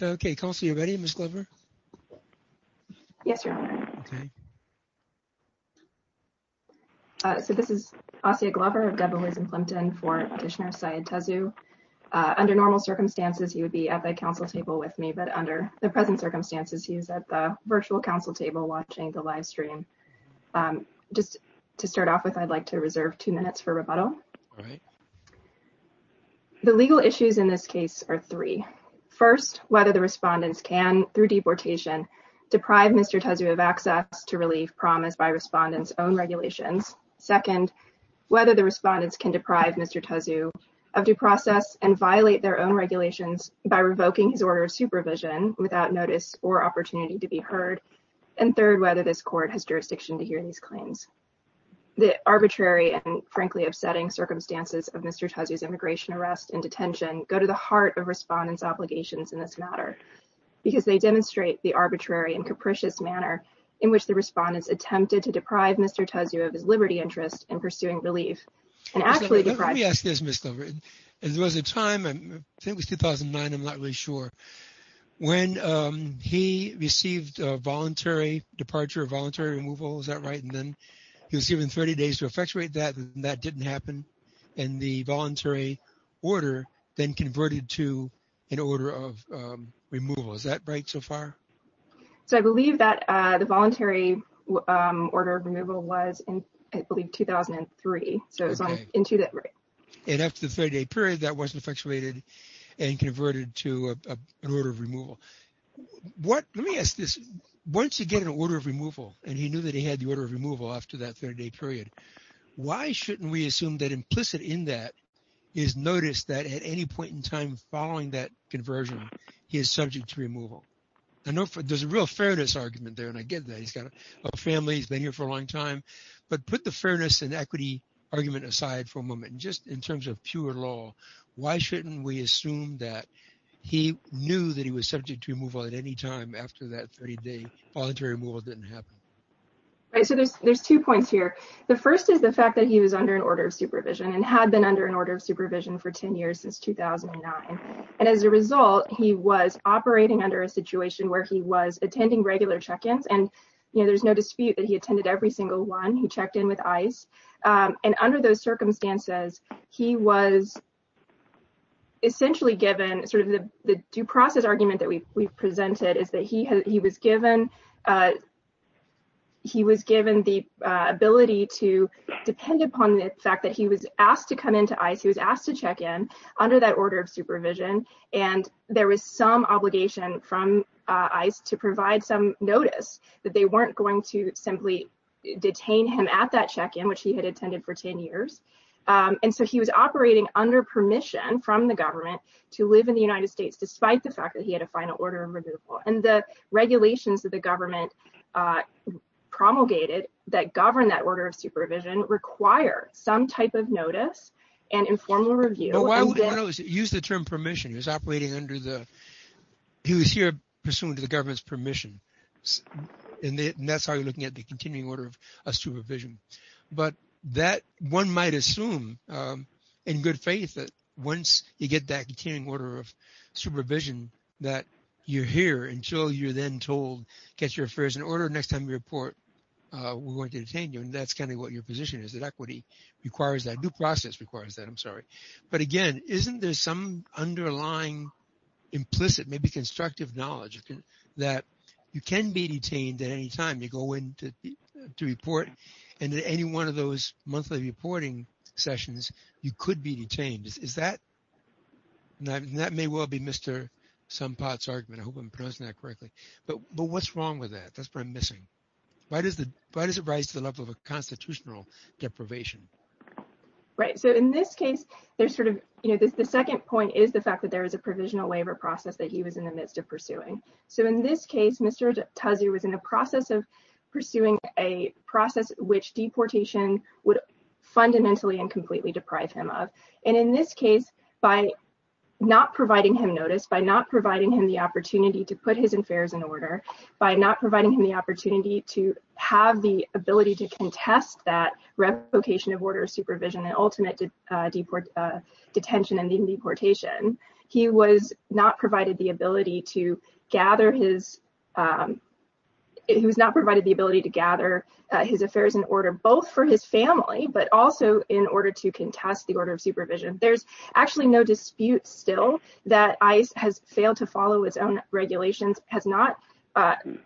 Okay, Kelsey, are you ready, Ms. Glover? Yes, Your Honor. Okay. So this is Asya Glover of Devil Rays and Plimpton for petitioner Syed Tazu. Under normal circumstances, he would be at the council table with me, but under the present circumstances, he is at the virtual council table watching the live stream. Just to start off with, I'd like to reserve two minutes for rebuttal. All right. The legal issues in this case are three. First, whether the respondents can, through deportation, deprive Mr. Tazu of access to relief promised by respondents' own regulations. Second, whether the respondents can deprive Mr. Tazu of due process and violate their own regulations by revoking his order of supervision without notice or opportunity to be heard. And third, whether this court has jurisdiction to hear these claims. The arbitrary and, frankly, upsetting circumstances of Mr. Tazu's immigration arrest and detention go to the heart of respondents' obligations in this matter. Because they demonstrate the arbitrary and capricious manner in which the respondents attempted to deprive Mr. Tazu of his liberty interest in pursuing relief. Let me ask this, Ms. Delvery. There was a time, I think it was 2009, I'm not really sure, when he received a voluntary departure or voluntary removal, is that right? And then he was given 30 days to effectuate that, and that didn't happen. And the voluntary order then converted to an order of removal. Is that right so far? So I believe that the voluntary order of removal was in, I believe, 2003. So it was on into that, right. And after the 30-day period, that wasn't effectuated and converted to an order of removal. Let me ask this. Once you get an order of removal, and he knew that he had the order of removal after that 30-day period, why shouldn't we assume that implicit in that is notice that at any point in time following that conversion, he is subject to removal? I know there's a real fairness argument there, and I get that. He's got a family. He's been here for a long time. But put the fairness and equity argument aside for a moment. Just in terms of pure law, why shouldn't we assume that he knew that he was subject to removal at any time after that 30-day voluntary removal didn't happen? So there's two points here. The first is the fact that he was under an order of supervision and had been under an order of supervision for 10 years since 2009. And as a result, he was operating under a situation where he was attending regular check-ins. And, you know, there's no dispute that he attended every single one. And under those circumstances, he was essentially given sort of the due process argument that we presented is that he was given the ability to depend upon the fact that he was asked to come into ICE. He was asked to check in under that order of supervision. And there was some obligation from ICE to provide some notice that they weren't going to simply detain him at that check-in, which he had attended for 10 years. And so he was operating under permission from the government to live in the United States despite the fact that he had a final order of removal. And the regulations that the government promulgated that govern that order of supervision require some type of notice and informal review. Use the term permission. He was operating under the – he was here pursuant to the government's permission. And that's how you're looking at the continuing order of supervision. But that – one might assume in good faith that once you get that continuing order of supervision that you're here until you're then told, get your affairs in order. Next time we report, we're going to detain you. And that's kind of what your position is, that equity requires that. Due process requires that. I'm sorry. But again, isn't there some underlying implicit, maybe constructive knowledge that you can be detained at any time? You go in to report, and at any one of those monthly reporting sessions, you could be detained. Is that – and that may well be Mr. Sompot's argument. I hope I'm pronouncing that correctly. But what's wrong with that? That's what I'm missing. Why does it rise to the level of a constitutional deprivation? Right. So in this case, there's sort of – the second point is the fact that there is a provisional waiver process that he was in the midst of pursuing. So in this case, Mr. Tuzzi was in the process of pursuing a process which deportation would fundamentally and completely deprive him of. And in this case, by not providing him notice, by not providing him the opportunity to put his affairs in order, by not providing him the opportunity to have the ability to contest that revocation of order of supervision and ultimate detention and deportation, he was not provided the ability to gather his – he was not provided the ability to gather his affairs in order both for his family, but also in order to contest the order of supervision. There's actually no dispute still that ICE has failed to follow its own regulations, has not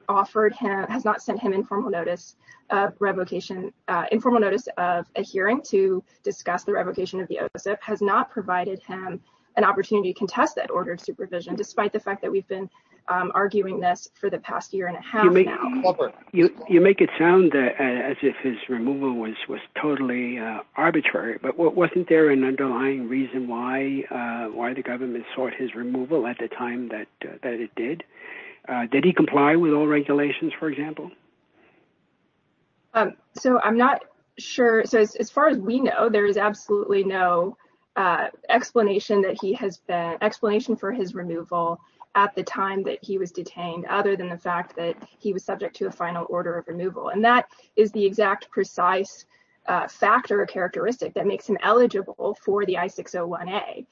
offered him – has not sent him informal notice of revocation – informal notice of a hearing to discuss the revocation of the OSIP, has not provided him an opportunity to contest that order of supervision, despite the fact that we've been arguing this for the past year and a half now. You make it sound as if his removal was totally arbitrary, but wasn't there an underlying reason why the government sought his removal at the time that it did? Did he comply with all regulations, for example? So I'm not sure. So as far as we know, there is absolutely no explanation that he has been – And that is the exact precise factor or characteristic that makes him eligible for the I-601A.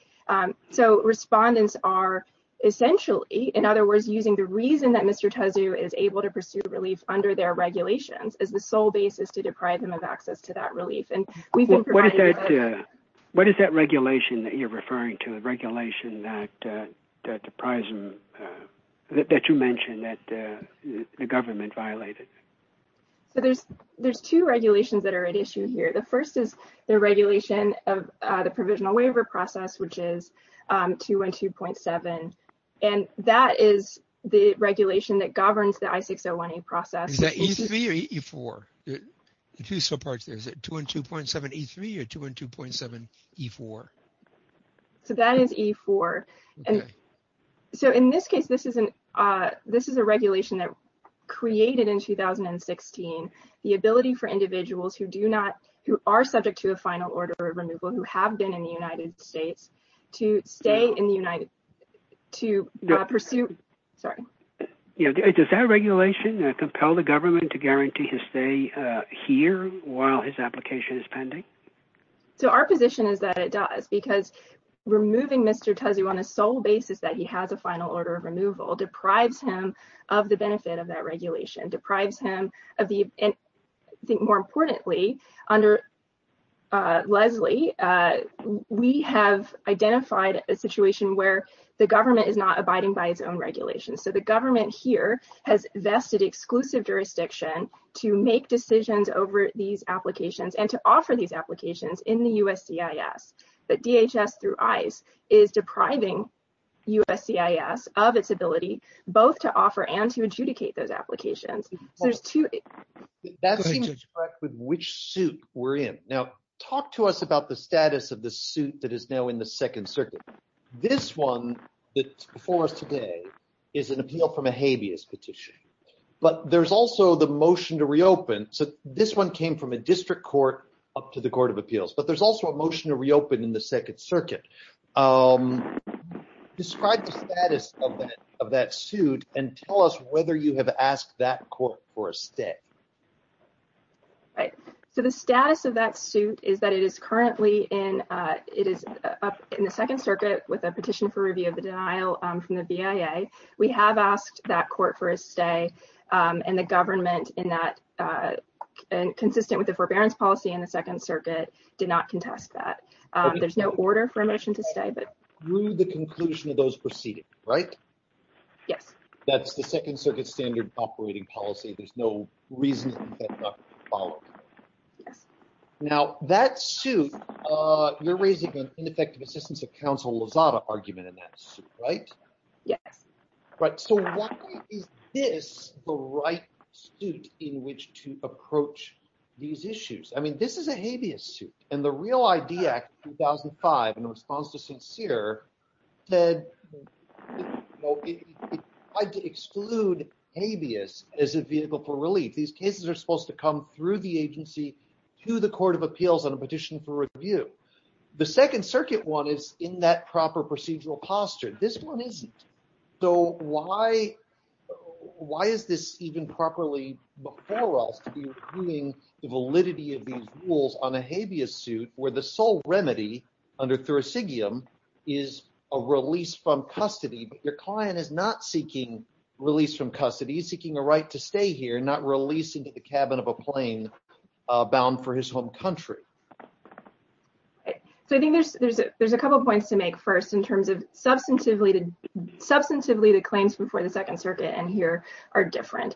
So respondents are essentially, in other words, using the reason that Mr. Tezu is able to pursue relief under their regulations as the sole basis to deprive them of access to that relief. What is that regulation that you're referring to, the regulation that deprives them – that you mentioned that the government violated? So there's two regulations that are at issue here. The first is the regulation of the provisional waiver process, which is 212.7. And that is the regulation that governs the I-601A process. Is that E3 or E4? Two subparts there. Is it 212.7E3 or 212.7E4? So that is E4. So in this case, this is a regulation that created in 2016 the ability for individuals who do not – who are subject to a final order of removal, who have been in the United States, to stay in the United – to pursue – sorry. Does that regulation compel the government to guarantee his stay here while his application is pending? So our position is that it does, because removing Mr. Tezu on a sole basis that he has a final order of removal deprives him of the benefit of that regulation, deprives him of the – and I think more importantly, under Leslie, we have identified a situation where the government is not abiding by its own regulations. So the government here has vested exclusive jurisdiction to make decisions over these applications and to offer these applications in the USCIS. But DHS through ICE is depriving USCIS of its ability both to offer and to adjudicate those applications. So there's two – That seems correct with which suit we're in. Now, talk to us about the status of the suit that is now in the Second Circuit. This one that's before us today is an appeal from a habeas petition, but there's also the motion to reopen. So this one came from a district court up to the Court of Appeals, but there's also a motion to reopen in the Second Circuit. Describe the status of that suit and tell us whether you have asked that court for a stay. Right. So the status of that suit is that it is currently in – it is up in the Second Circuit with a petition for review of the denial from the BIA. We have asked that court for a stay, and the government in that – consistent with the forbearance policy in the Second Circuit did not contest that. There's no order for a motion to stay, but – Through the conclusion of those proceeding, right? Yes. That's the Second Circuit standard operating policy. There's no reason for that not to be followed. Yes. Now, that suit – you're raising an ineffective assistance of counsel Lozada argument in that suit, right? Yes. Right. So why is this the right suit in which to approach these issues? I mean, this is a habeas suit, and the Real ID Act of 2005, in response to Sincere, said it tried to exclude habeas as a vehicle for relief. These cases are supposed to come through the agency to the Court of Appeals on a petition for review. The Second Circuit one is in that proper procedural posture. So why is this even properly before us to be reviewing the validity of these rules on a habeas suit where the sole remedy under thursigium is a release from custody, but your client is not seeking release from custody. He's seeking a right to stay here, not release into the cabin of a plane bound for his home country. So I think there's a couple of points to make first in terms of substantively the claims before the Second Circuit and here are different.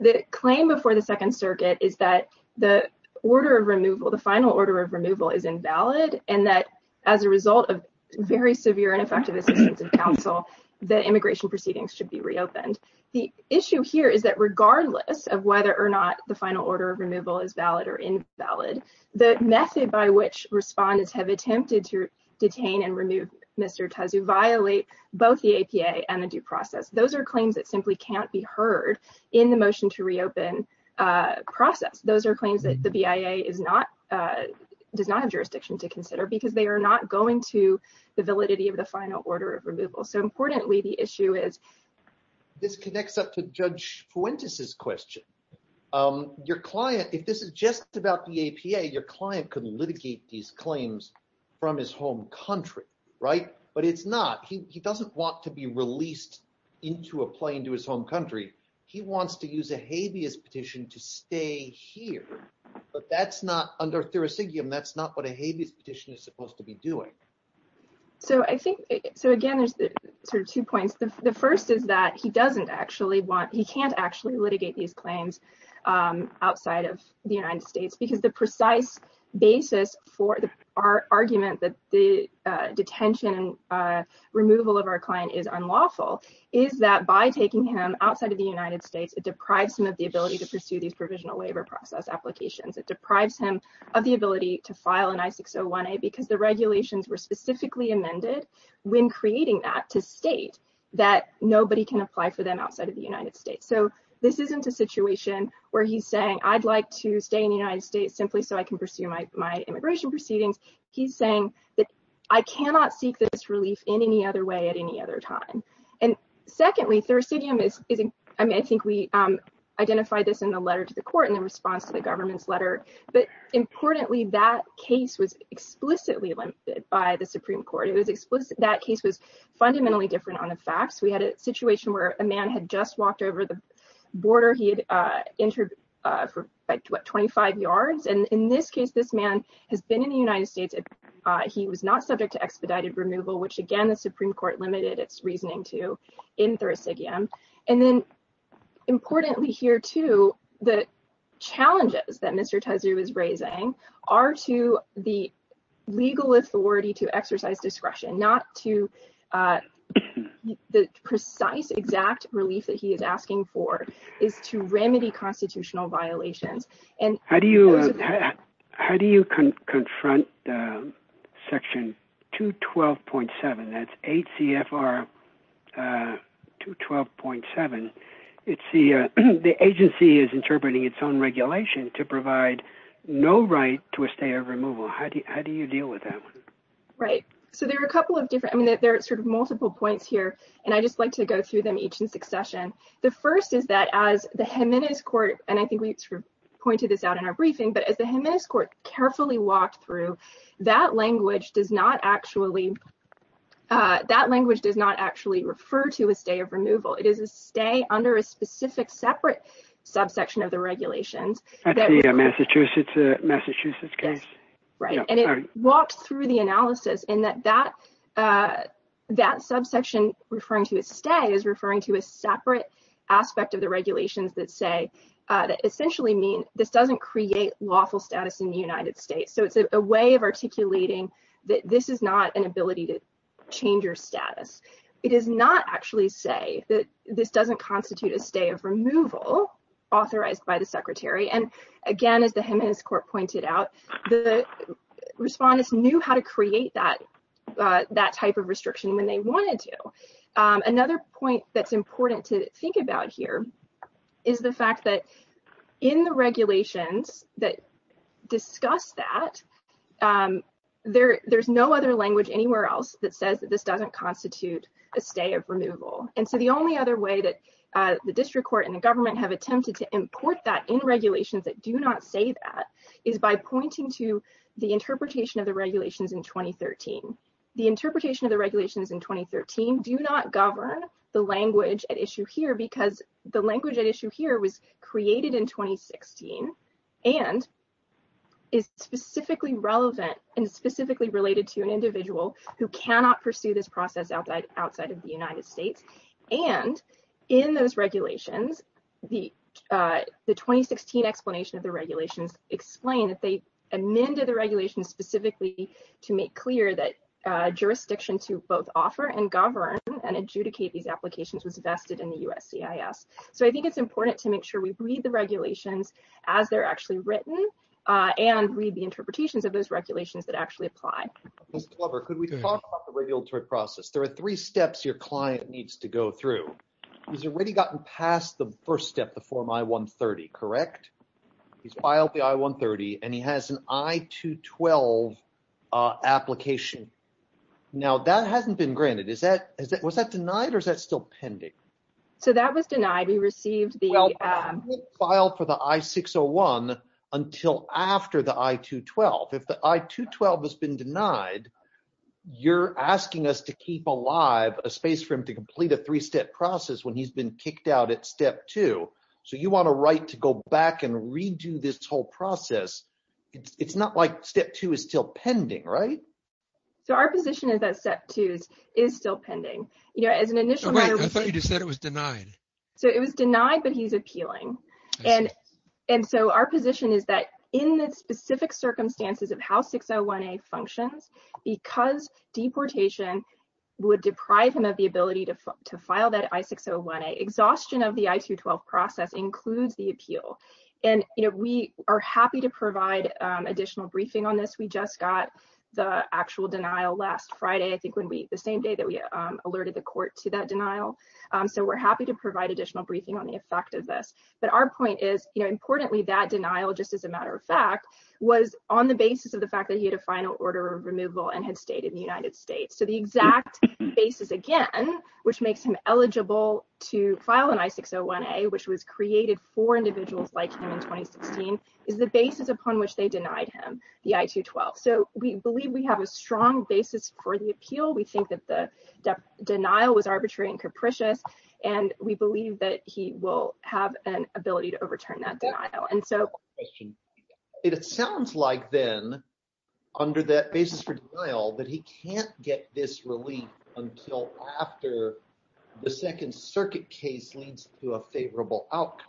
The claim before the Second Circuit is that the order of removal, the final order of removal is invalid, and that as a result of very severe and effective assistance of counsel, the immigration proceedings should be reopened. And the issue here is that regardless of whether or not the final order of removal is valid or invalid, the method by which respondents have attempted to detain and remove Mr. Tazu violate both the APA and the due process. Those are claims that simply can't be heard in the motion to reopen process. Those are claims that the BIA does not have jurisdiction to consider because they are not going to the validity of the final order of removal. So importantly, the issue is this connects up to Judge Fuentes' question. Your client, if this is just about the APA, your client could litigate these claims from his home country, right? But it's not. He doesn't want to be released into a plane to his home country. He wants to use a habeas petition to stay here, but that's not under thursigium. That's not what a habeas petition is supposed to be doing. So I think so, again, there's two points. The first is that he doesn't actually want he can't actually litigate these claims outside of the United States because the precise basis for the argument that the detention and removal of our client is unlawful is that by taking him outside of the United States, it deprives him of the ability to pursue these provisional labor process applications. It deprives him of the ability to file an I-601A because the regulations were specifically amended when creating that to state that nobody can apply for them outside of the United States. So this isn't a situation where he's saying, I'd like to stay in the United States simply so I can pursue my immigration proceedings. He's saying that I cannot seek this relief in any other way at any other time. And secondly, thursidium is, I think we identified this in the letter to the court in response to the government's letter. But importantly, that case was explicitly limited by the Supreme Court. That case was fundamentally different on the facts. We had a situation where a man had just walked over the border. He had entered for 25 yards. And in this case, this man has been in the United States. He was not subject to expedited removal, which, again, the Supreme Court limited its reasoning to in thursidium. And then importantly here, too, the challenges that Mr. Tezu is raising are to the legal authority to exercise discretion, not to the precise, exact relief that he is asking for, is to remedy constitutional violations. How do you confront Section 212.7? That's 8 CFR 212.7. It's the agency is interpreting its own regulation to provide no right to a stay of removal. How do you deal with that? Right. So there are a couple of different. I mean, there are sort of multiple points here. And I just like to go through them each in succession. The first is that as the Jimenez court. And I think we pointed this out in our briefing. But as the Jimenez court carefully walked through, that language does not actually that language does not actually refer to a stay of removal. It is a stay under a specific separate subsection of the regulations. Massachusetts, Massachusetts case. Right. And it walks through the analysis in that that that subsection referring to a stay is referring to a separate aspect of the regulations that say that essentially mean this doesn't create lawful status in the United States. So it's a way of articulating that this is not an ability to change your status. It is not actually say that this doesn't constitute a stay of removal authorized by the secretary. And again, as the Jimenez court pointed out, the respondents knew how to create that that type of restriction when they wanted to. Another point that's important to think about here is the fact that in the regulations that discuss that there there's no other language anywhere else that says that this doesn't constitute a stay of removal. And so the only other way that the district court and the government have attempted to import that in regulations that do not say that is by pointing to the interpretation of the regulations in 2013. The interpretation of the regulations in 2013 do not govern the language at issue here because the language at issue here was created in 2016 and is specifically relevant and specifically related to an individual who cannot pursue this process outside outside of the United States. And in those regulations, the 2016 explanation of the regulations explain that they amended the regulations specifically to make clear that jurisdiction to both offer and govern and adjudicate these applications was vested in the USCIS. So I think it's important to make sure we read the regulations as they're actually written and read the interpretations of those regulations that actually apply. Mr. Glover, could we talk about the regulatory process? There are three steps your client needs to go through. He's already gotten past the first step, the Form I-130, correct? He's filed the I-130 and he has an I-212 application. Now that hasn't been granted. Is that, was that denied or is that still pending? So that was denied. We received the file for the I-601 until after the I-212. If the I-212 has been denied, you're asking us to keep alive a space for him to complete a three-step process when he's been kicked out at Step 2. So you want a right to go back and redo this whole process. It's not like Step 2 is still pending, right? So our position is that Step 2 is still pending. I thought you just said it was denied. So it was denied, but he's appealing. And so our position is that in the specific circumstances of how 601A functions, because deportation would deprive him of the ability to file that I-601A, exhaustion of the I-212 process includes the appeal. And, you know, we are happy to provide additional briefing on this. We just got the actual denial last Friday, I think when we, the same day that we alerted the court to that denial. So we're happy to provide additional briefing on the effect of this. But our point is, you know, importantly, that denial, just as a matter of fact, was on the basis of the fact that he had a final order of removal and had stayed in the United States. So the exact basis, again, which makes him eligible to file an I-601A, which was created for individuals like him in 2016, is the basis upon which they denied him the I-212. So we believe we have a strong basis for the appeal. We think that the denial was arbitrary and capricious, and we believe that he will have an ability to overturn that denial. It sounds like then, under that basis for denial, that he can't get this relief until after the Second Circuit case leads to a favorable outcome.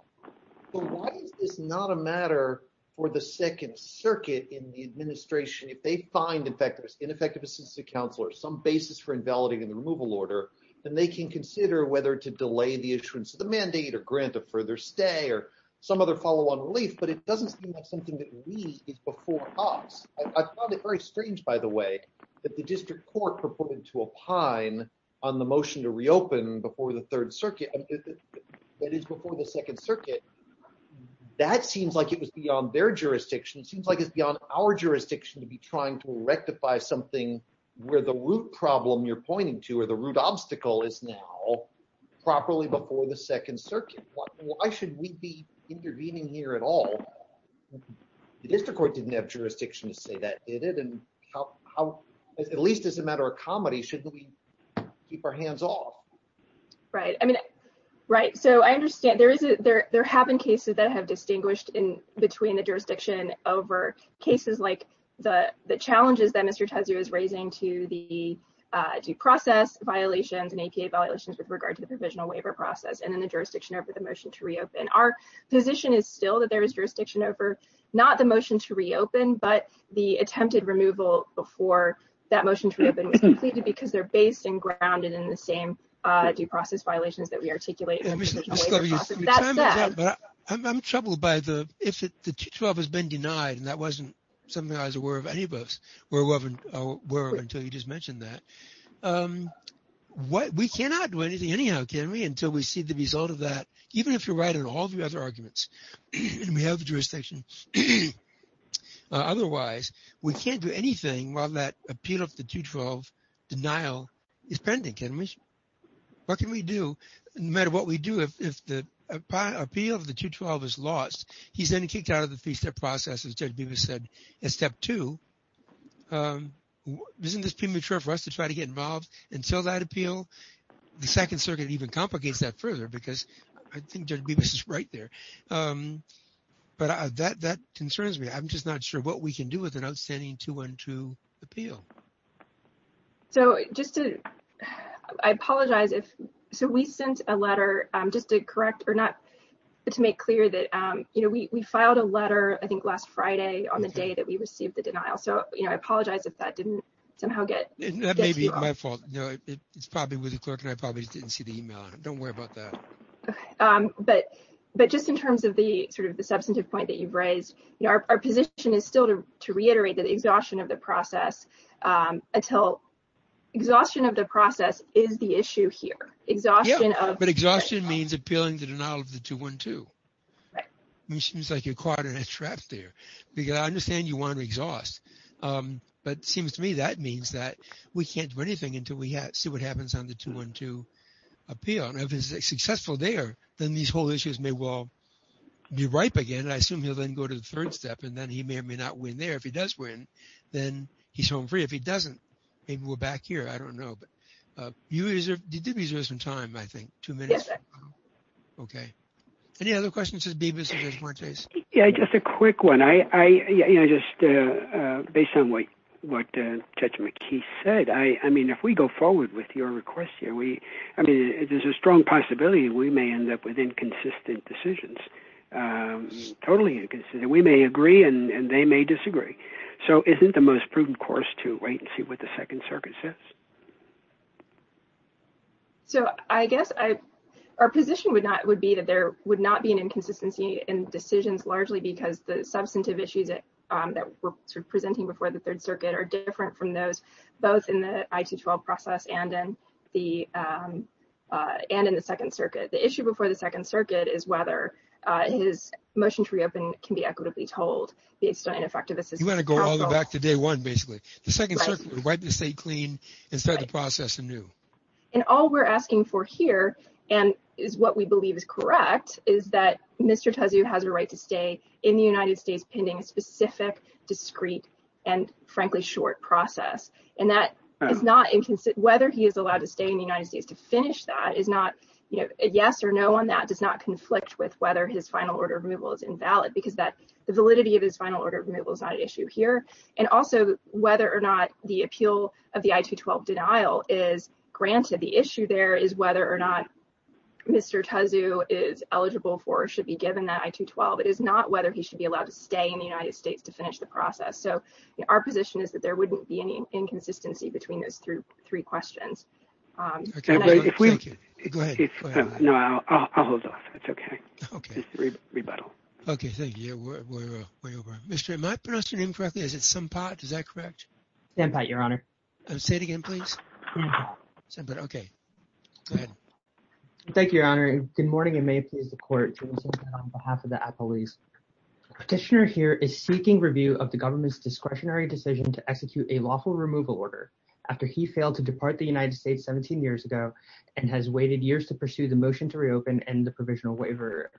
But why is this not a matter for the Second Circuit in the administration? If they find, in effect, an ineffective assistant counselor, some basis for invalidating the removal order, then they can consider whether to delay the issuance of the mandate or grant a further stay or some other follow-on relief, but it doesn't seem like something that we, is before us. I found it very strange, by the way, that the district court purported to opine on the motion to reopen before the Third Circuit, that is, before the Second Circuit. That seems like it was beyond their jurisdiction. It seems like it's beyond our jurisdiction to be trying to rectify something where the root problem you're pointing to, or the root obstacle, is now properly before the Second Circuit. Why should we be intervening here at all? The district court didn't have jurisdiction to say that, did it? At least as a matter of comedy, shouldn't we keep our hands off? Right, so I understand there have been cases that have distinguished between the jurisdiction over cases like the challenges that Mr. Tezu is raising to the due process violations and APA violations with regard to the provisional waiver process, and then the jurisdiction over the motion to reopen. Our position is still that there is jurisdiction over, not the motion to reopen, but the attempted removal before that motion to reopen was completed because they're based and grounded in the same due process violations that we articulate. I'm troubled by the, if the 212 has been denied, and that wasn't something I was aware of any of us were aware of until you just mentioned that, we cannot do anything anyhow, can we, until we see the result of that, even if you're right in all the other arguments, and we have the jurisdiction. Otherwise, we can't do anything while that appeal of the 212 denial is pending, can we? What can we do? No matter what we do, if the appeal of the 212 is lost, he's then kicked out of the three-step process, as Judge Bibas said, as step two. Isn't this premature for us to try to get involved until that appeal? The Second Circuit even complicates that further because I think Judge Bibas is right there. But that concerns me. I'm just not sure what we can do with an outstanding 212 appeal. So just to, I apologize if, so we sent a letter, just to correct or not, to make clear that, you know, we filed a letter, I think, last Friday on the day that we received the denial. So, you know, I apologize if that didn't somehow get to you. That may be my fault. It's probably with the clerk and I probably didn't see the email. Don't worry about that. But just in terms of the sort of the substantive point that you've raised, you know, our position is still to reiterate that exhaustion of the process until, exhaustion of the process is the issue here. But exhaustion means appealing the denial of the 212. It seems like you're caught in a trap there. I understand you want to exhaust. But it seems to me that means that we can't do anything until we see what happens on the 212 appeal. And if it's successful there, then these whole issues may well be ripe again. I assume he'll then go to the third step and then he may or may not win there. If he does win, then he's home free. If he doesn't, maybe we're back here. I don't know. But you did reserve some time, I think, two minutes. Yes, I did. Okay. Any other questions? Yeah, just a quick one. I just, based on what Judge McKee said, I mean, if we go forward with your request here, we, I mean, there's a strong possibility we may end up with inconsistent decisions. Totally inconsistent. We may agree and they may disagree. So isn't the most prudent course to wait and see what the Second Circuit says? So I guess I, our position would not, would be that there would not be an inconsistency in decisions, largely because the substantive issues that we're presenting before the Third Circuit are different from those, both in the I-212 process and in the, and in the Second Circuit. The issue before the Second Circuit is whether his motion to reopen can be equitably told based on ineffective assistance. You want to go all the way back to day one, basically. The Second Circuit would wipe the state clean and start the process anew. And all we're asking for here, and is what we believe is correct, is that Mr. Tezu has a right to stay in the United States pending a specific, discreet, and frankly short process. And that is not inconsistent, whether he is allowed to stay in the United States to finish that is not, you know, a yes or no on that does not conflict with whether his final order of removal is invalid because that, the validity of his final order of removal is not an issue here. And also, whether or not the appeal of the I-212 denial is granted. The issue there is whether or not Mr. Tezu is eligible for or should be given that I-212. It is not whether he should be allowed to stay in the United States to finish the process. So, our position is that there wouldn't be any inconsistency between those three questions. Okay. Go ahead. No, I'll hold off. That's okay. Okay. Rebuttal. Okay, thank you. Mr. Am I pronouncing your name correctly? Is it Sempat? Is that correct? Sempat, Your Honor. Say it again, please. Sempat, okay. Go ahead. Thank you, Your Honor. Good morning and may it please the Court, James Sempat on behalf of the appellees. Petitioner here is seeking review of the government's discretionary decision to execute a lawful removal order after he failed to depart the United States 17 years ago and has waited years to pursue the motion to reopen and the provisional waiver,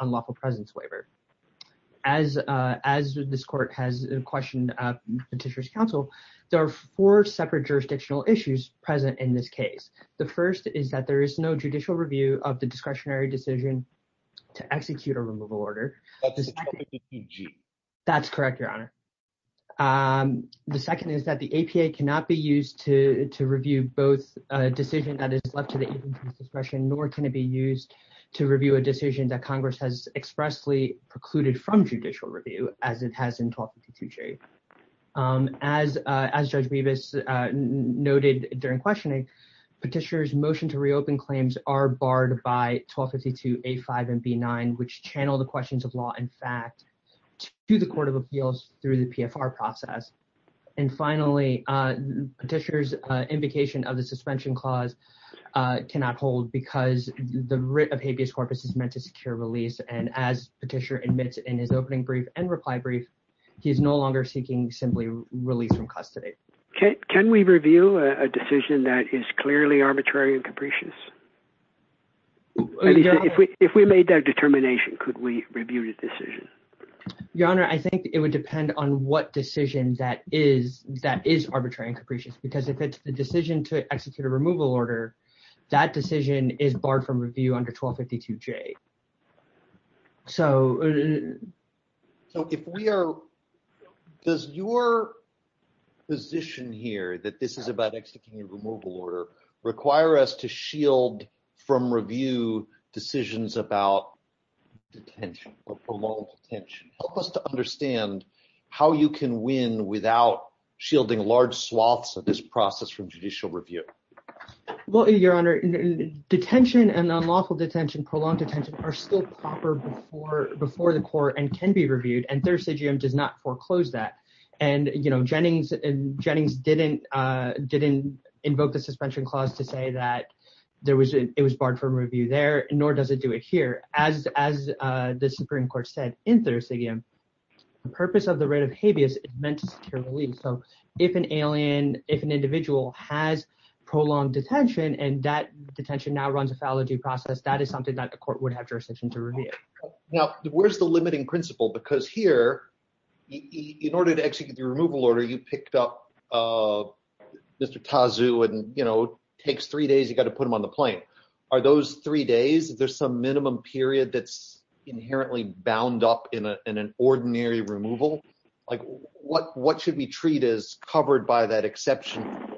unlawful presence waiver. As this Court has questioned Petitioner's counsel, there are four separate jurisdictional issues present in this case. The first is that there is no judicial review of the discretionary decision to execute a removal order. That's correct, Your Honor. The second is that the APA cannot be used to review both a decision that is left to the discretion nor can it be used to review a decision that Congress has expressly precluded from judicial review as it has in 1252J. As Judge Bevis noted during questioning, Petitioner's motion to reopen claims are barred by 1252A5 and B9, which channel the questions of law and fact to the Court of Appeals through the PFR process. And finally, Petitioner's invocation of the suspension clause cannot hold because the writ of habeas corpus is meant to secure release and as Petitioner admits in his opening brief and reply brief, he is no longer seeking simply release from custody. Can we review a decision that is clearly arbitrary and capricious? If we made that determination, could we review the decision? Your Honor, I think it would depend on what decision that is arbitrary and capricious because if it's the decision to execute a removal order, that decision is barred from review under 1252J. So if we are, does your position here that this is about executing a removal order require us to shield from review decisions about detention or prolonged detention? Help us to understand how you can win without shielding large swaths of this process from judicial review. Well, Your Honor, detention and unlawful detention, prolonged detention are still proper before the court and can be reviewed and Thursigium does not foreclose that. And, you know, Jennings didn't invoke the suspension clause to say that it was barred from review there, nor does it do it here. As the Supreme Court said in Thursigium, the purpose of the writ of habeas is meant to secure release. So if an alien, if an individual has prolonged detention and that detention now runs a foul or due process, that is something that the court would have jurisdiction to review. Now, where's the limiting principle? Because here, in order to execute the removal order, you picked up Mr. Tazu and, you know, takes three days. You've got to put him on the plane. Are those three days? Is there some minimum period that's inherently bound up in an ordinary removal? Like what what should we treat as covered by that exception?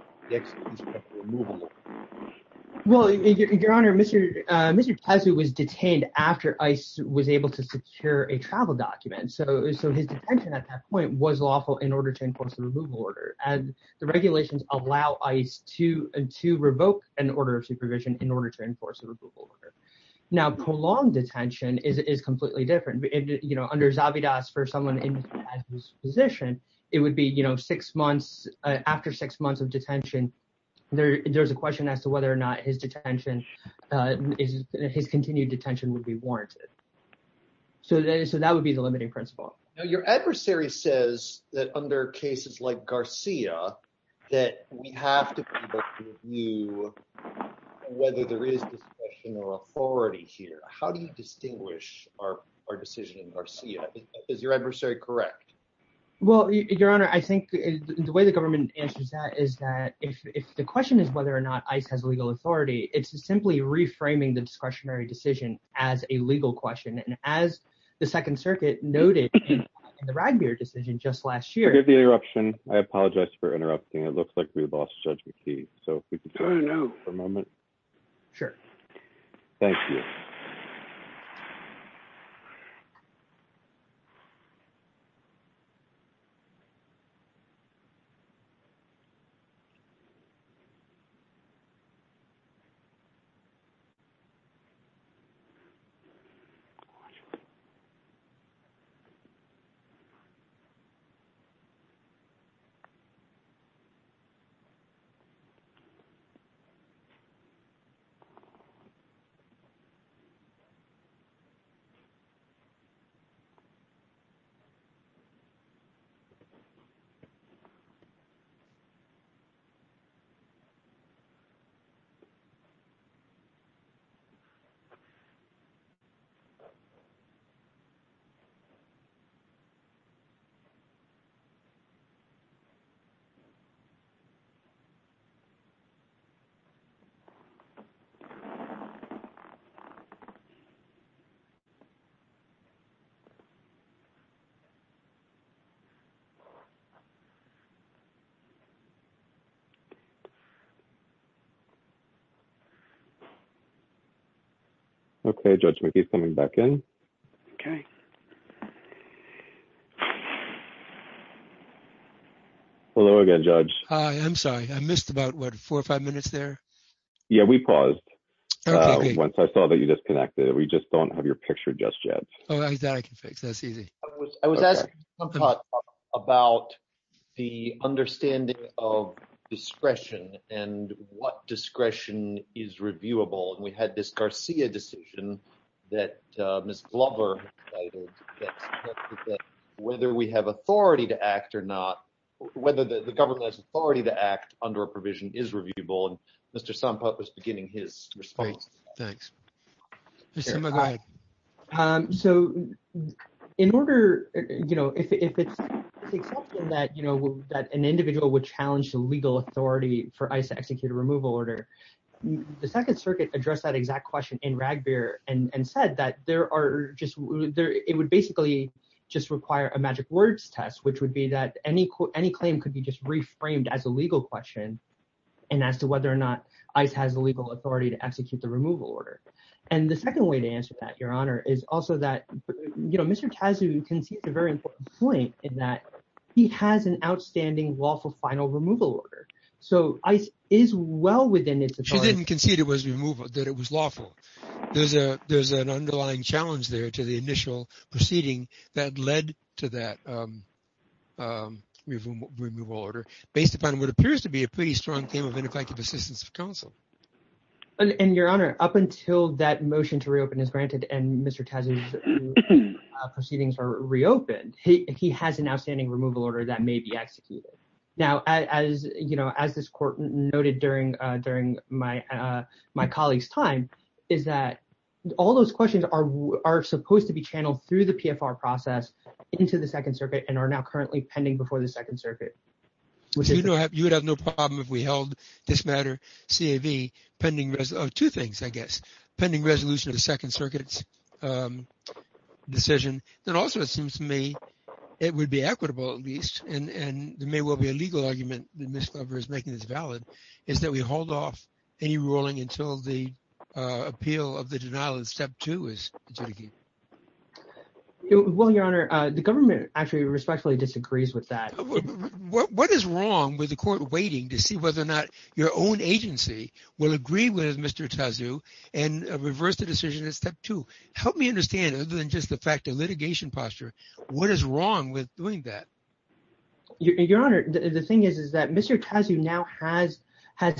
Well, Your Honor, Mr. Tazu was detained after ICE was able to secure a travel document. So his detention at that point was lawful in order to enforce the removal order. And the regulations allow ICE to revoke an order of supervision in order to enforce a removal order. Now, prolonged detention is completely different. Under Zabidas, for someone in Tazu's position, it would be, you know, six months after six months of detention. There's a question as to whether or not his detention, his continued detention would be warranted. So that would be the limiting principle. Your adversary says that under cases like Garcia, that we have to review whether there is discretion or authority here. How do you distinguish our decision in Garcia? Is your adversary correct? Well, Your Honor, I think the way the government answers that is that if the question is whether or not ICE has legal authority, it's simply reframing the discretionary decision as a legal question. And as the Second Circuit noted in the Ragbeard decision just last year. Forgive the interruption. I apologize for interrupting. It looks like we lost Judge McKee. So if we could turn it over for a moment. Sure. Thank you. Thank you very much. Thank you. OK. Hello again, Judge. I'm sorry. I missed about four or five minutes there. Yeah, we paused once I saw that you disconnected. We just don't have your picture just yet. Oh, that I can fix. That's easy. I was asking about the understanding of discretion and what discretion is reviewable. And we had this Garcia decision that Ms. Glover whether we have authority to act or not, whether the government has authority to act under a provision is reviewable. And Mr. Somput was beginning his response. Thanks. So, in order, you know, if it's something that, you know, that an individual would challenge the legal authority for ICE to execute a removal order. The Second Circuit address that exact question in Ragbeard and said that there are just there, it would basically just require a magic words test, which would be that any quote any claim could be just reframed as a legal question. And as to whether or not ICE has a legal authority to execute the removal order. And the second way to answer that, Your Honor, is also that, you know, Mr. Tazzy, you can see it's a very important point in that he has an outstanding lawful final removal order. So, ICE is well within its authority. She didn't concede it was removal, that it was lawful. There's a, there's an underlying challenge there to the initial proceeding that led to that removal order, based upon what appears to be a pretty strong claim of ineffective assistance of counsel. And, Your Honor, up until that motion to reopen is granted and Mr. Tazzy's proceedings are reopened, he has an outstanding removal order that may be executed. Now, as you know, as this court noted during my colleagues time, is that all those questions are supposed to be channeled through the PFR process into the Second Circuit and are now currently pending before the Second Circuit. You would have no problem if we held this matter, CAV, pending two things, I guess. Pending resolution of the Second Circuit's decision. That also, it seems to me, it would be equitable, at least, and there may well be a legal argument that Ms. Glover is making this valid, is that we hold off any ruling until the appeal of the denial of Step 2 is adjudicated. Well, Your Honor, the government actually respectfully disagrees with that. What is wrong with the court waiting to see whether or not your own agency will agree with Mr. Tazzy and reverse the decision in Step 2? Help me understand, other than just the fact of litigation posture, what is wrong with doing that? Your Honor, the thing is, is that Mr. Tazzy now has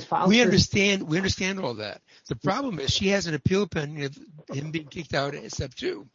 filed... We understand, we understand all that. The problem is she has an appeal pending of him being kicked out in Step 2.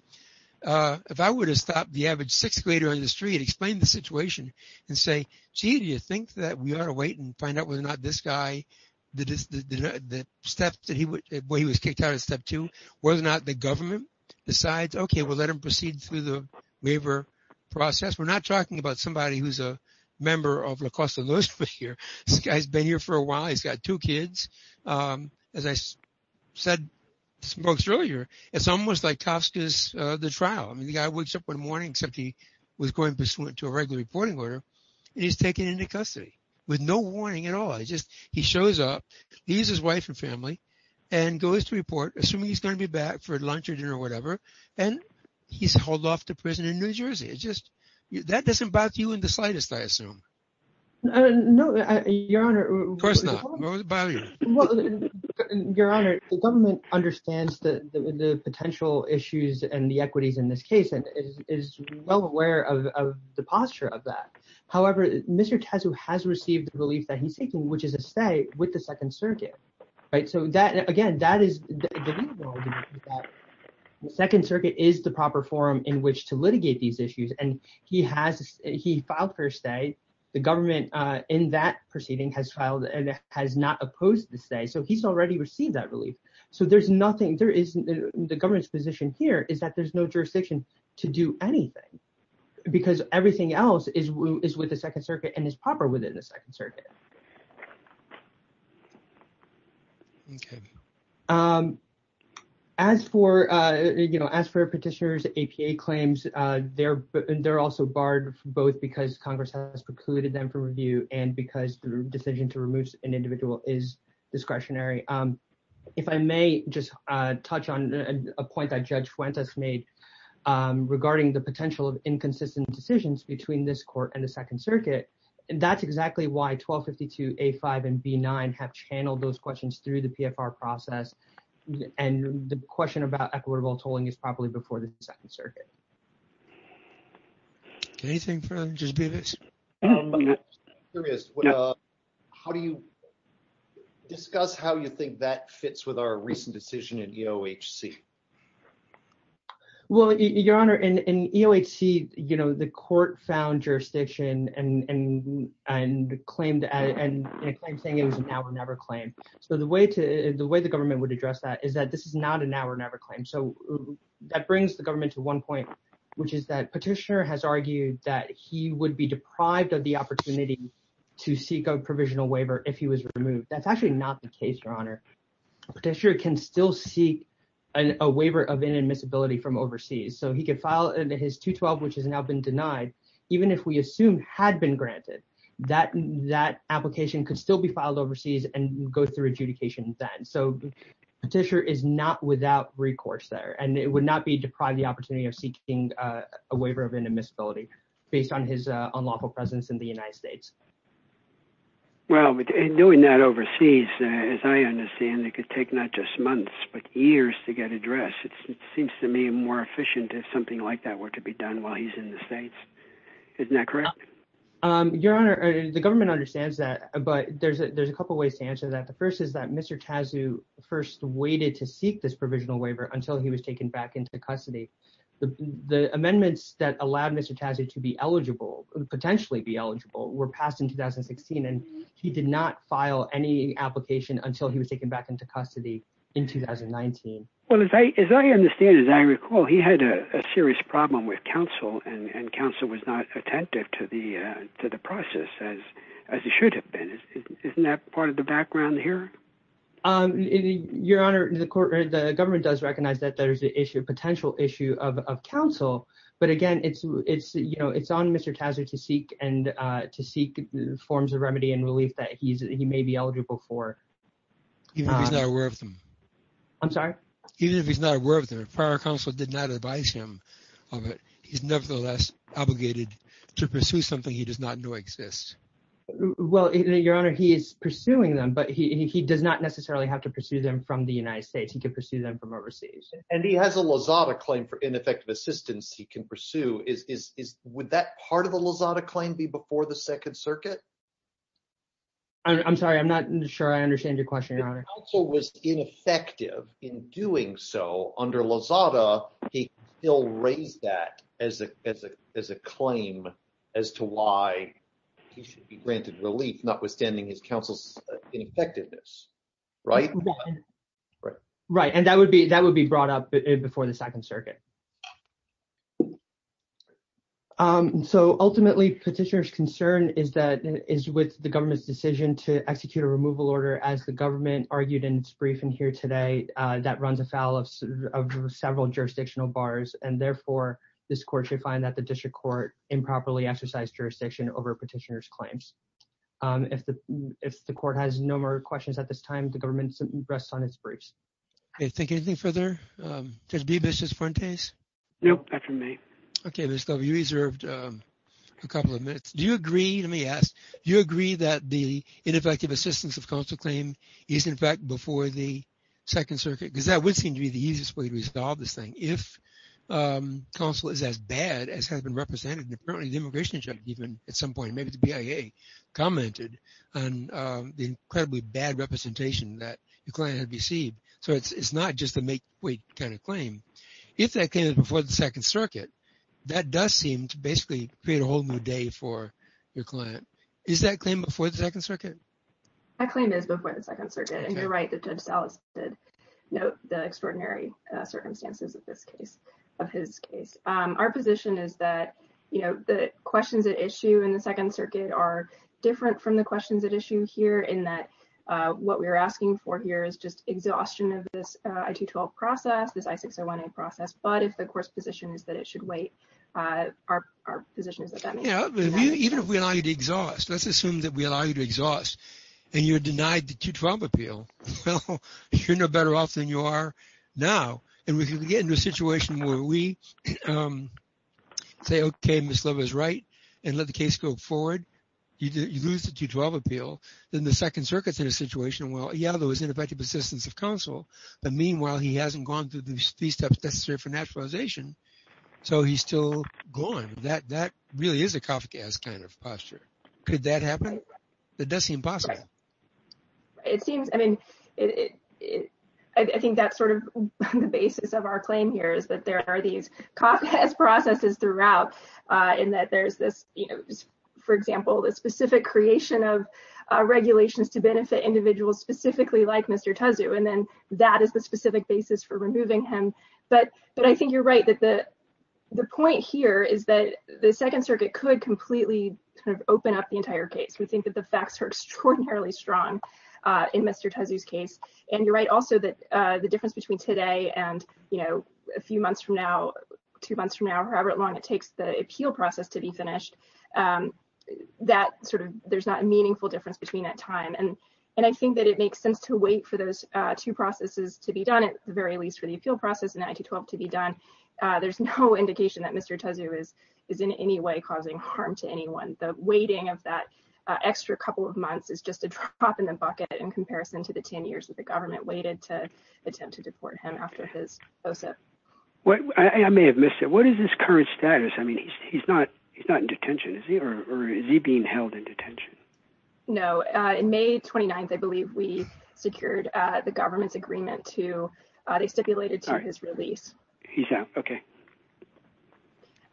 If I were to stop the average sixth grader on the street and explain the situation and say, gee, do you think that we ought to wait and find out whether or not this guy, the step that he was kicked out of Step 2, whether or not the government decides, okay, we'll let him proceed through the waiver process. We're not talking about somebody who's a member of La Costa Lewisburg here. This guy's been here for a while. He's got two kids. As I said earlier, it's almost like Kafka's The Trial. I mean, the guy wakes up one morning, except he was going to a regular reporting order. He's taken into custody with no warning at all. I just he shows up. He's his wife and family and goes to report assuming he's going to be back for lunch or dinner or whatever. And he's hauled off to prison in New Jersey. It's just that doesn't bother you in the slightest, I assume. No, Your Honor. Of course not. Your Honor, the government understands the potential issues and the equities in this case and is well aware of the posture of that. However, Mr. Tazzo has received the relief that he's seeking, which is a stay with the Second Circuit. Right. So that again, that is the Second Circuit is the proper forum in which to litigate these issues. And he has he filed for a stay. The government in that proceeding has filed and has not opposed the stay. So he's already received that relief. So there's nothing there isn't. The government's position here is that there's no jurisdiction to do anything because everything else is is with the Second Circuit and is proper within the Second Circuit. As for, you know, as for petitioners, APA claims, they're they're also barred both because Congress has precluded them from review and because the decision to remove an individual is discretionary. If I may just touch on a point that Judge Fuentes made regarding the potential of inconsistent decisions between this court and the Second Circuit. And that's exactly why 1252 A5 and B9 have channeled those questions through the PFR process. And the question about equitable tolling is probably before the Second Circuit. Anything from just be this. How do you discuss how you think that fits with our recent decision and, you know, H.C. Well, Your Honor, and, you know, H.C., you know, the court found jurisdiction and and and claimed and saying it was now or never claim. So the way to the way the government would address that is that this is not an hour never claim. So that brings the government to one point, which is that petitioner has argued that he would be deprived of the opportunity to seek a provisional waiver if he was removed. That's actually not the case, Your Honor. Petitioner can still seek a waiver of inadmissibility from overseas so he can file his 212, which has now been denied. Even if we assume had been granted that that application could still be filed overseas and go through adjudication then. So petitioner is not without recourse there and it would not be deprived the opportunity of seeking a waiver of inadmissibility based on his unlawful presence in the United States. Well, doing that overseas, as I understand, it could take not just months but years to get addressed. It seems to me more efficient if something like that were to be done while he's in the States. Isn't that correct? Your Honor, the government understands that, but there's a there's a couple ways to answer that. The first is that Mr. Tassu first waited to seek this provisional waiver until he was taken back into custody. The amendments that allowed Mr. Tassu to be eligible, potentially be eligible, were passed in 2016 and he did not file any application until he was taken back into custody in 2019. Well, as I understand, as I recall, he had a serious problem with counsel and counsel was not attentive to the process as he should have been. Isn't that part of the background here? Your Honor, the government does recognize that there is a potential issue of counsel, but again, it's on Mr. Tassu to seek forms of remedy and relief that he may be eligible for. Even if he's not aware of them? I'm sorry? Even if he's not aware of them, if prior counsel did not advise him of it, he's nevertheless obligated to pursue something he does not know exists. Well, Your Honor, he is pursuing them, but he does not necessarily have to pursue them from the United States. He can pursue them from overseas. And he has a LAZADA claim for ineffective assistance he can pursue. Would that part of the LAZADA claim be before the Second Circuit? I'm sorry, I'm not sure I understand your question, Your Honor. If counsel was ineffective in doing so under LAZADA, he still raised that as a claim as to why he should be granted relief, notwithstanding his counsel's ineffectiveness, right? Right, and that would be brought up before the Second Circuit. So, ultimately, Petitioner's concern is with the government's decision to execute a removal order as the government argued in its briefing here today that runs afoul of several jurisdictional bars, and therefore, this court should find that the district court improperly exercised jurisdiction over Petitioner's claims. If the court has no more questions at this time, the government rests on its briefs. Do you think anything further, Judge Bibas, Judge Fuentes? Nope, that's from me. Okay, Ms. Dover, you reserved a couple of minutes. Do you agree, let me ask, do you agree that the ineffective assistance of counsel claim is, in fact, before the Second Circuit? Because that would seem to be the easiest way to resolve this thing. If counsel is as bad as has been represented, and apparently the immigration judge even at some point, maybe the BIA, commented on the incredibly bad representation that the client had received. It's not just a make wait kind of claim. If that claim is before the Second Circuit, that does seem to basically create a whole new day for your client. Is that claim before the Second Circuit? That claim is before the Second Circuit, and you're right that Judge Salas did note the extraordinary circumstances of this case, of his case. Our position is that, you know, the questions at issue in the Second Circuit are different from the questions at issue here in that what we're asking for here is just exhaustion of this I-212 process, this I-601A process. But if the court's position is that it should wait, our position is that that may be denied. Even if we allow you to exhaust, let's assume that we allow you to exhaust, and you're denied the 212 appeal. Well, you're no better off than you are now. And we can get into a situation where we say, okay, Ms. Lova is right, and let the case go forward. You lose the 212 appeal. Then the Second Circuit's in a situation where, yeah, there was ineffective assistance of counsel. But meanwhile, he hasn't gone through these steps necessary for naturalization, so he's still gone. That really is a cough gas kind of posture. Could that happen? It does seem possible. I think that's sort of the basis of our claim here is that there are these cough gas processes throughout, in that there's this, you know, for example, the specific creation of regulations to benefit individuals specifically like Mr. Tezu. And then that is the specific basis for removing him. But I think you're right that the point here is that the Second Circuit could completely open up the entire case. We think that the facts are extraordinarily strong in Mr. Tezu's case. And you're right also that the difference between today and, you know, a few months from now, two months from now, however long it takes the appeal process to be finished, that sort of there's not a meaningful difference between that time. And I think that it makes sense to wait for those two processes to be done, at the very least for the appeal process and the 212 to be done. There's no indication that Mr. Tezu is in any way causing harm to anyone. The waiting of that extra couple of months is just a drop in the bucket in comparison to the 10 years that the government waited to attempt to deport him after his expulsion. I may have missed it. What is his current status? I mean, he's not in detention, is he, or is he being held in detention? No, in May 29th, I believe we secured the government's agreement to, they stipulated to his release. Yeah, okay.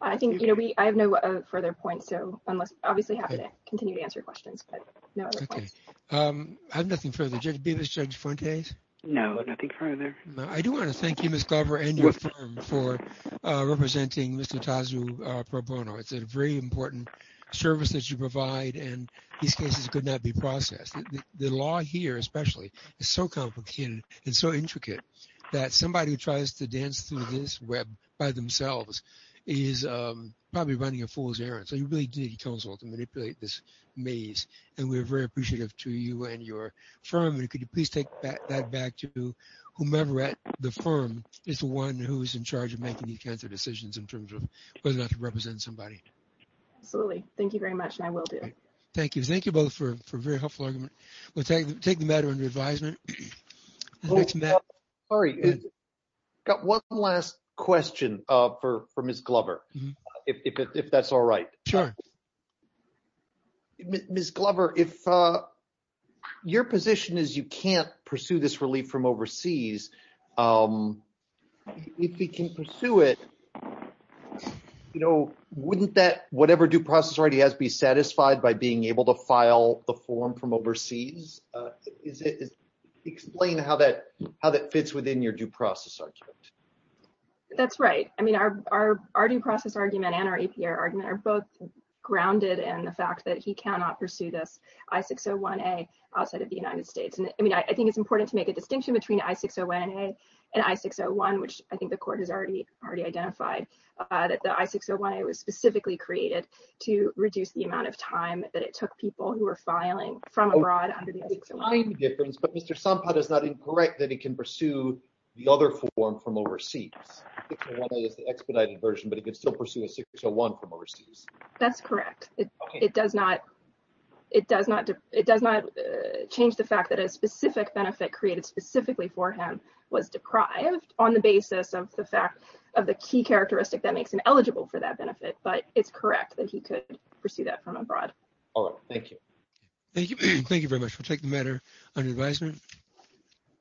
I think, you know, I have no further points, so I'm obviously happy to continue to answer questions, but no other points. Okay. I have nothing further. Judge Bevis, Judge Fuentes? No, nothing further. I do want to thank you, Ms. Glover, and your firm for representing Mr. Tezu pro bono. It's a very important service that you provide, and these cases could not be processed. The law here, especially, is so complicated and so intricate that somebody who tries to dance through this web by themselves is probably running a fool's errand. So, you really did consult and manipulate this maze, and we're very appreciative to you and your firm. And could you please take that back to whomever at the firm is the one who is in charge of making these kinds of decisions in terms of whether or not to represent somebody? Absolutely. Thank you very much, and I will do. Thank you. Thank you both for a very helpful argument. We'll take the matter under advisement. Sorry, I've got one last question for Ms. Glover, if that's all right. Sure. Ms. Glover, your position is you can't pursue this relief from overseas. If we can pursue it, you know, wouldn't that whatever due process already has to be satisfied by being able to file the form from overseas? Explain how that fits within your due process argument. That's right. I mean, our due process argument and our APR argument are both grounded in the fact that he cannot pursue this I-601A outside of the United States. I mean, I think it's important to make a distinction between I-601A and I-601, which I think the court has already identified that the I-601A was specifically created to reduce the amount of time that it took people who were filing from abroad under the I-601A. But Mr. Somput is not incorrect that he can pursue the other form from overseas. I-601A is the expedited version, but he could still pursue a I-601 from overseas. That's correct. It does not change the fact that a specific benefit created specifically for him was deprived on the basis of the fact of the key characteristic that makes him eligible for that benefit. But it's correct that he could pursue that from abroad. All right. Thank you. Thank you very much. We'll take the matter under advisement.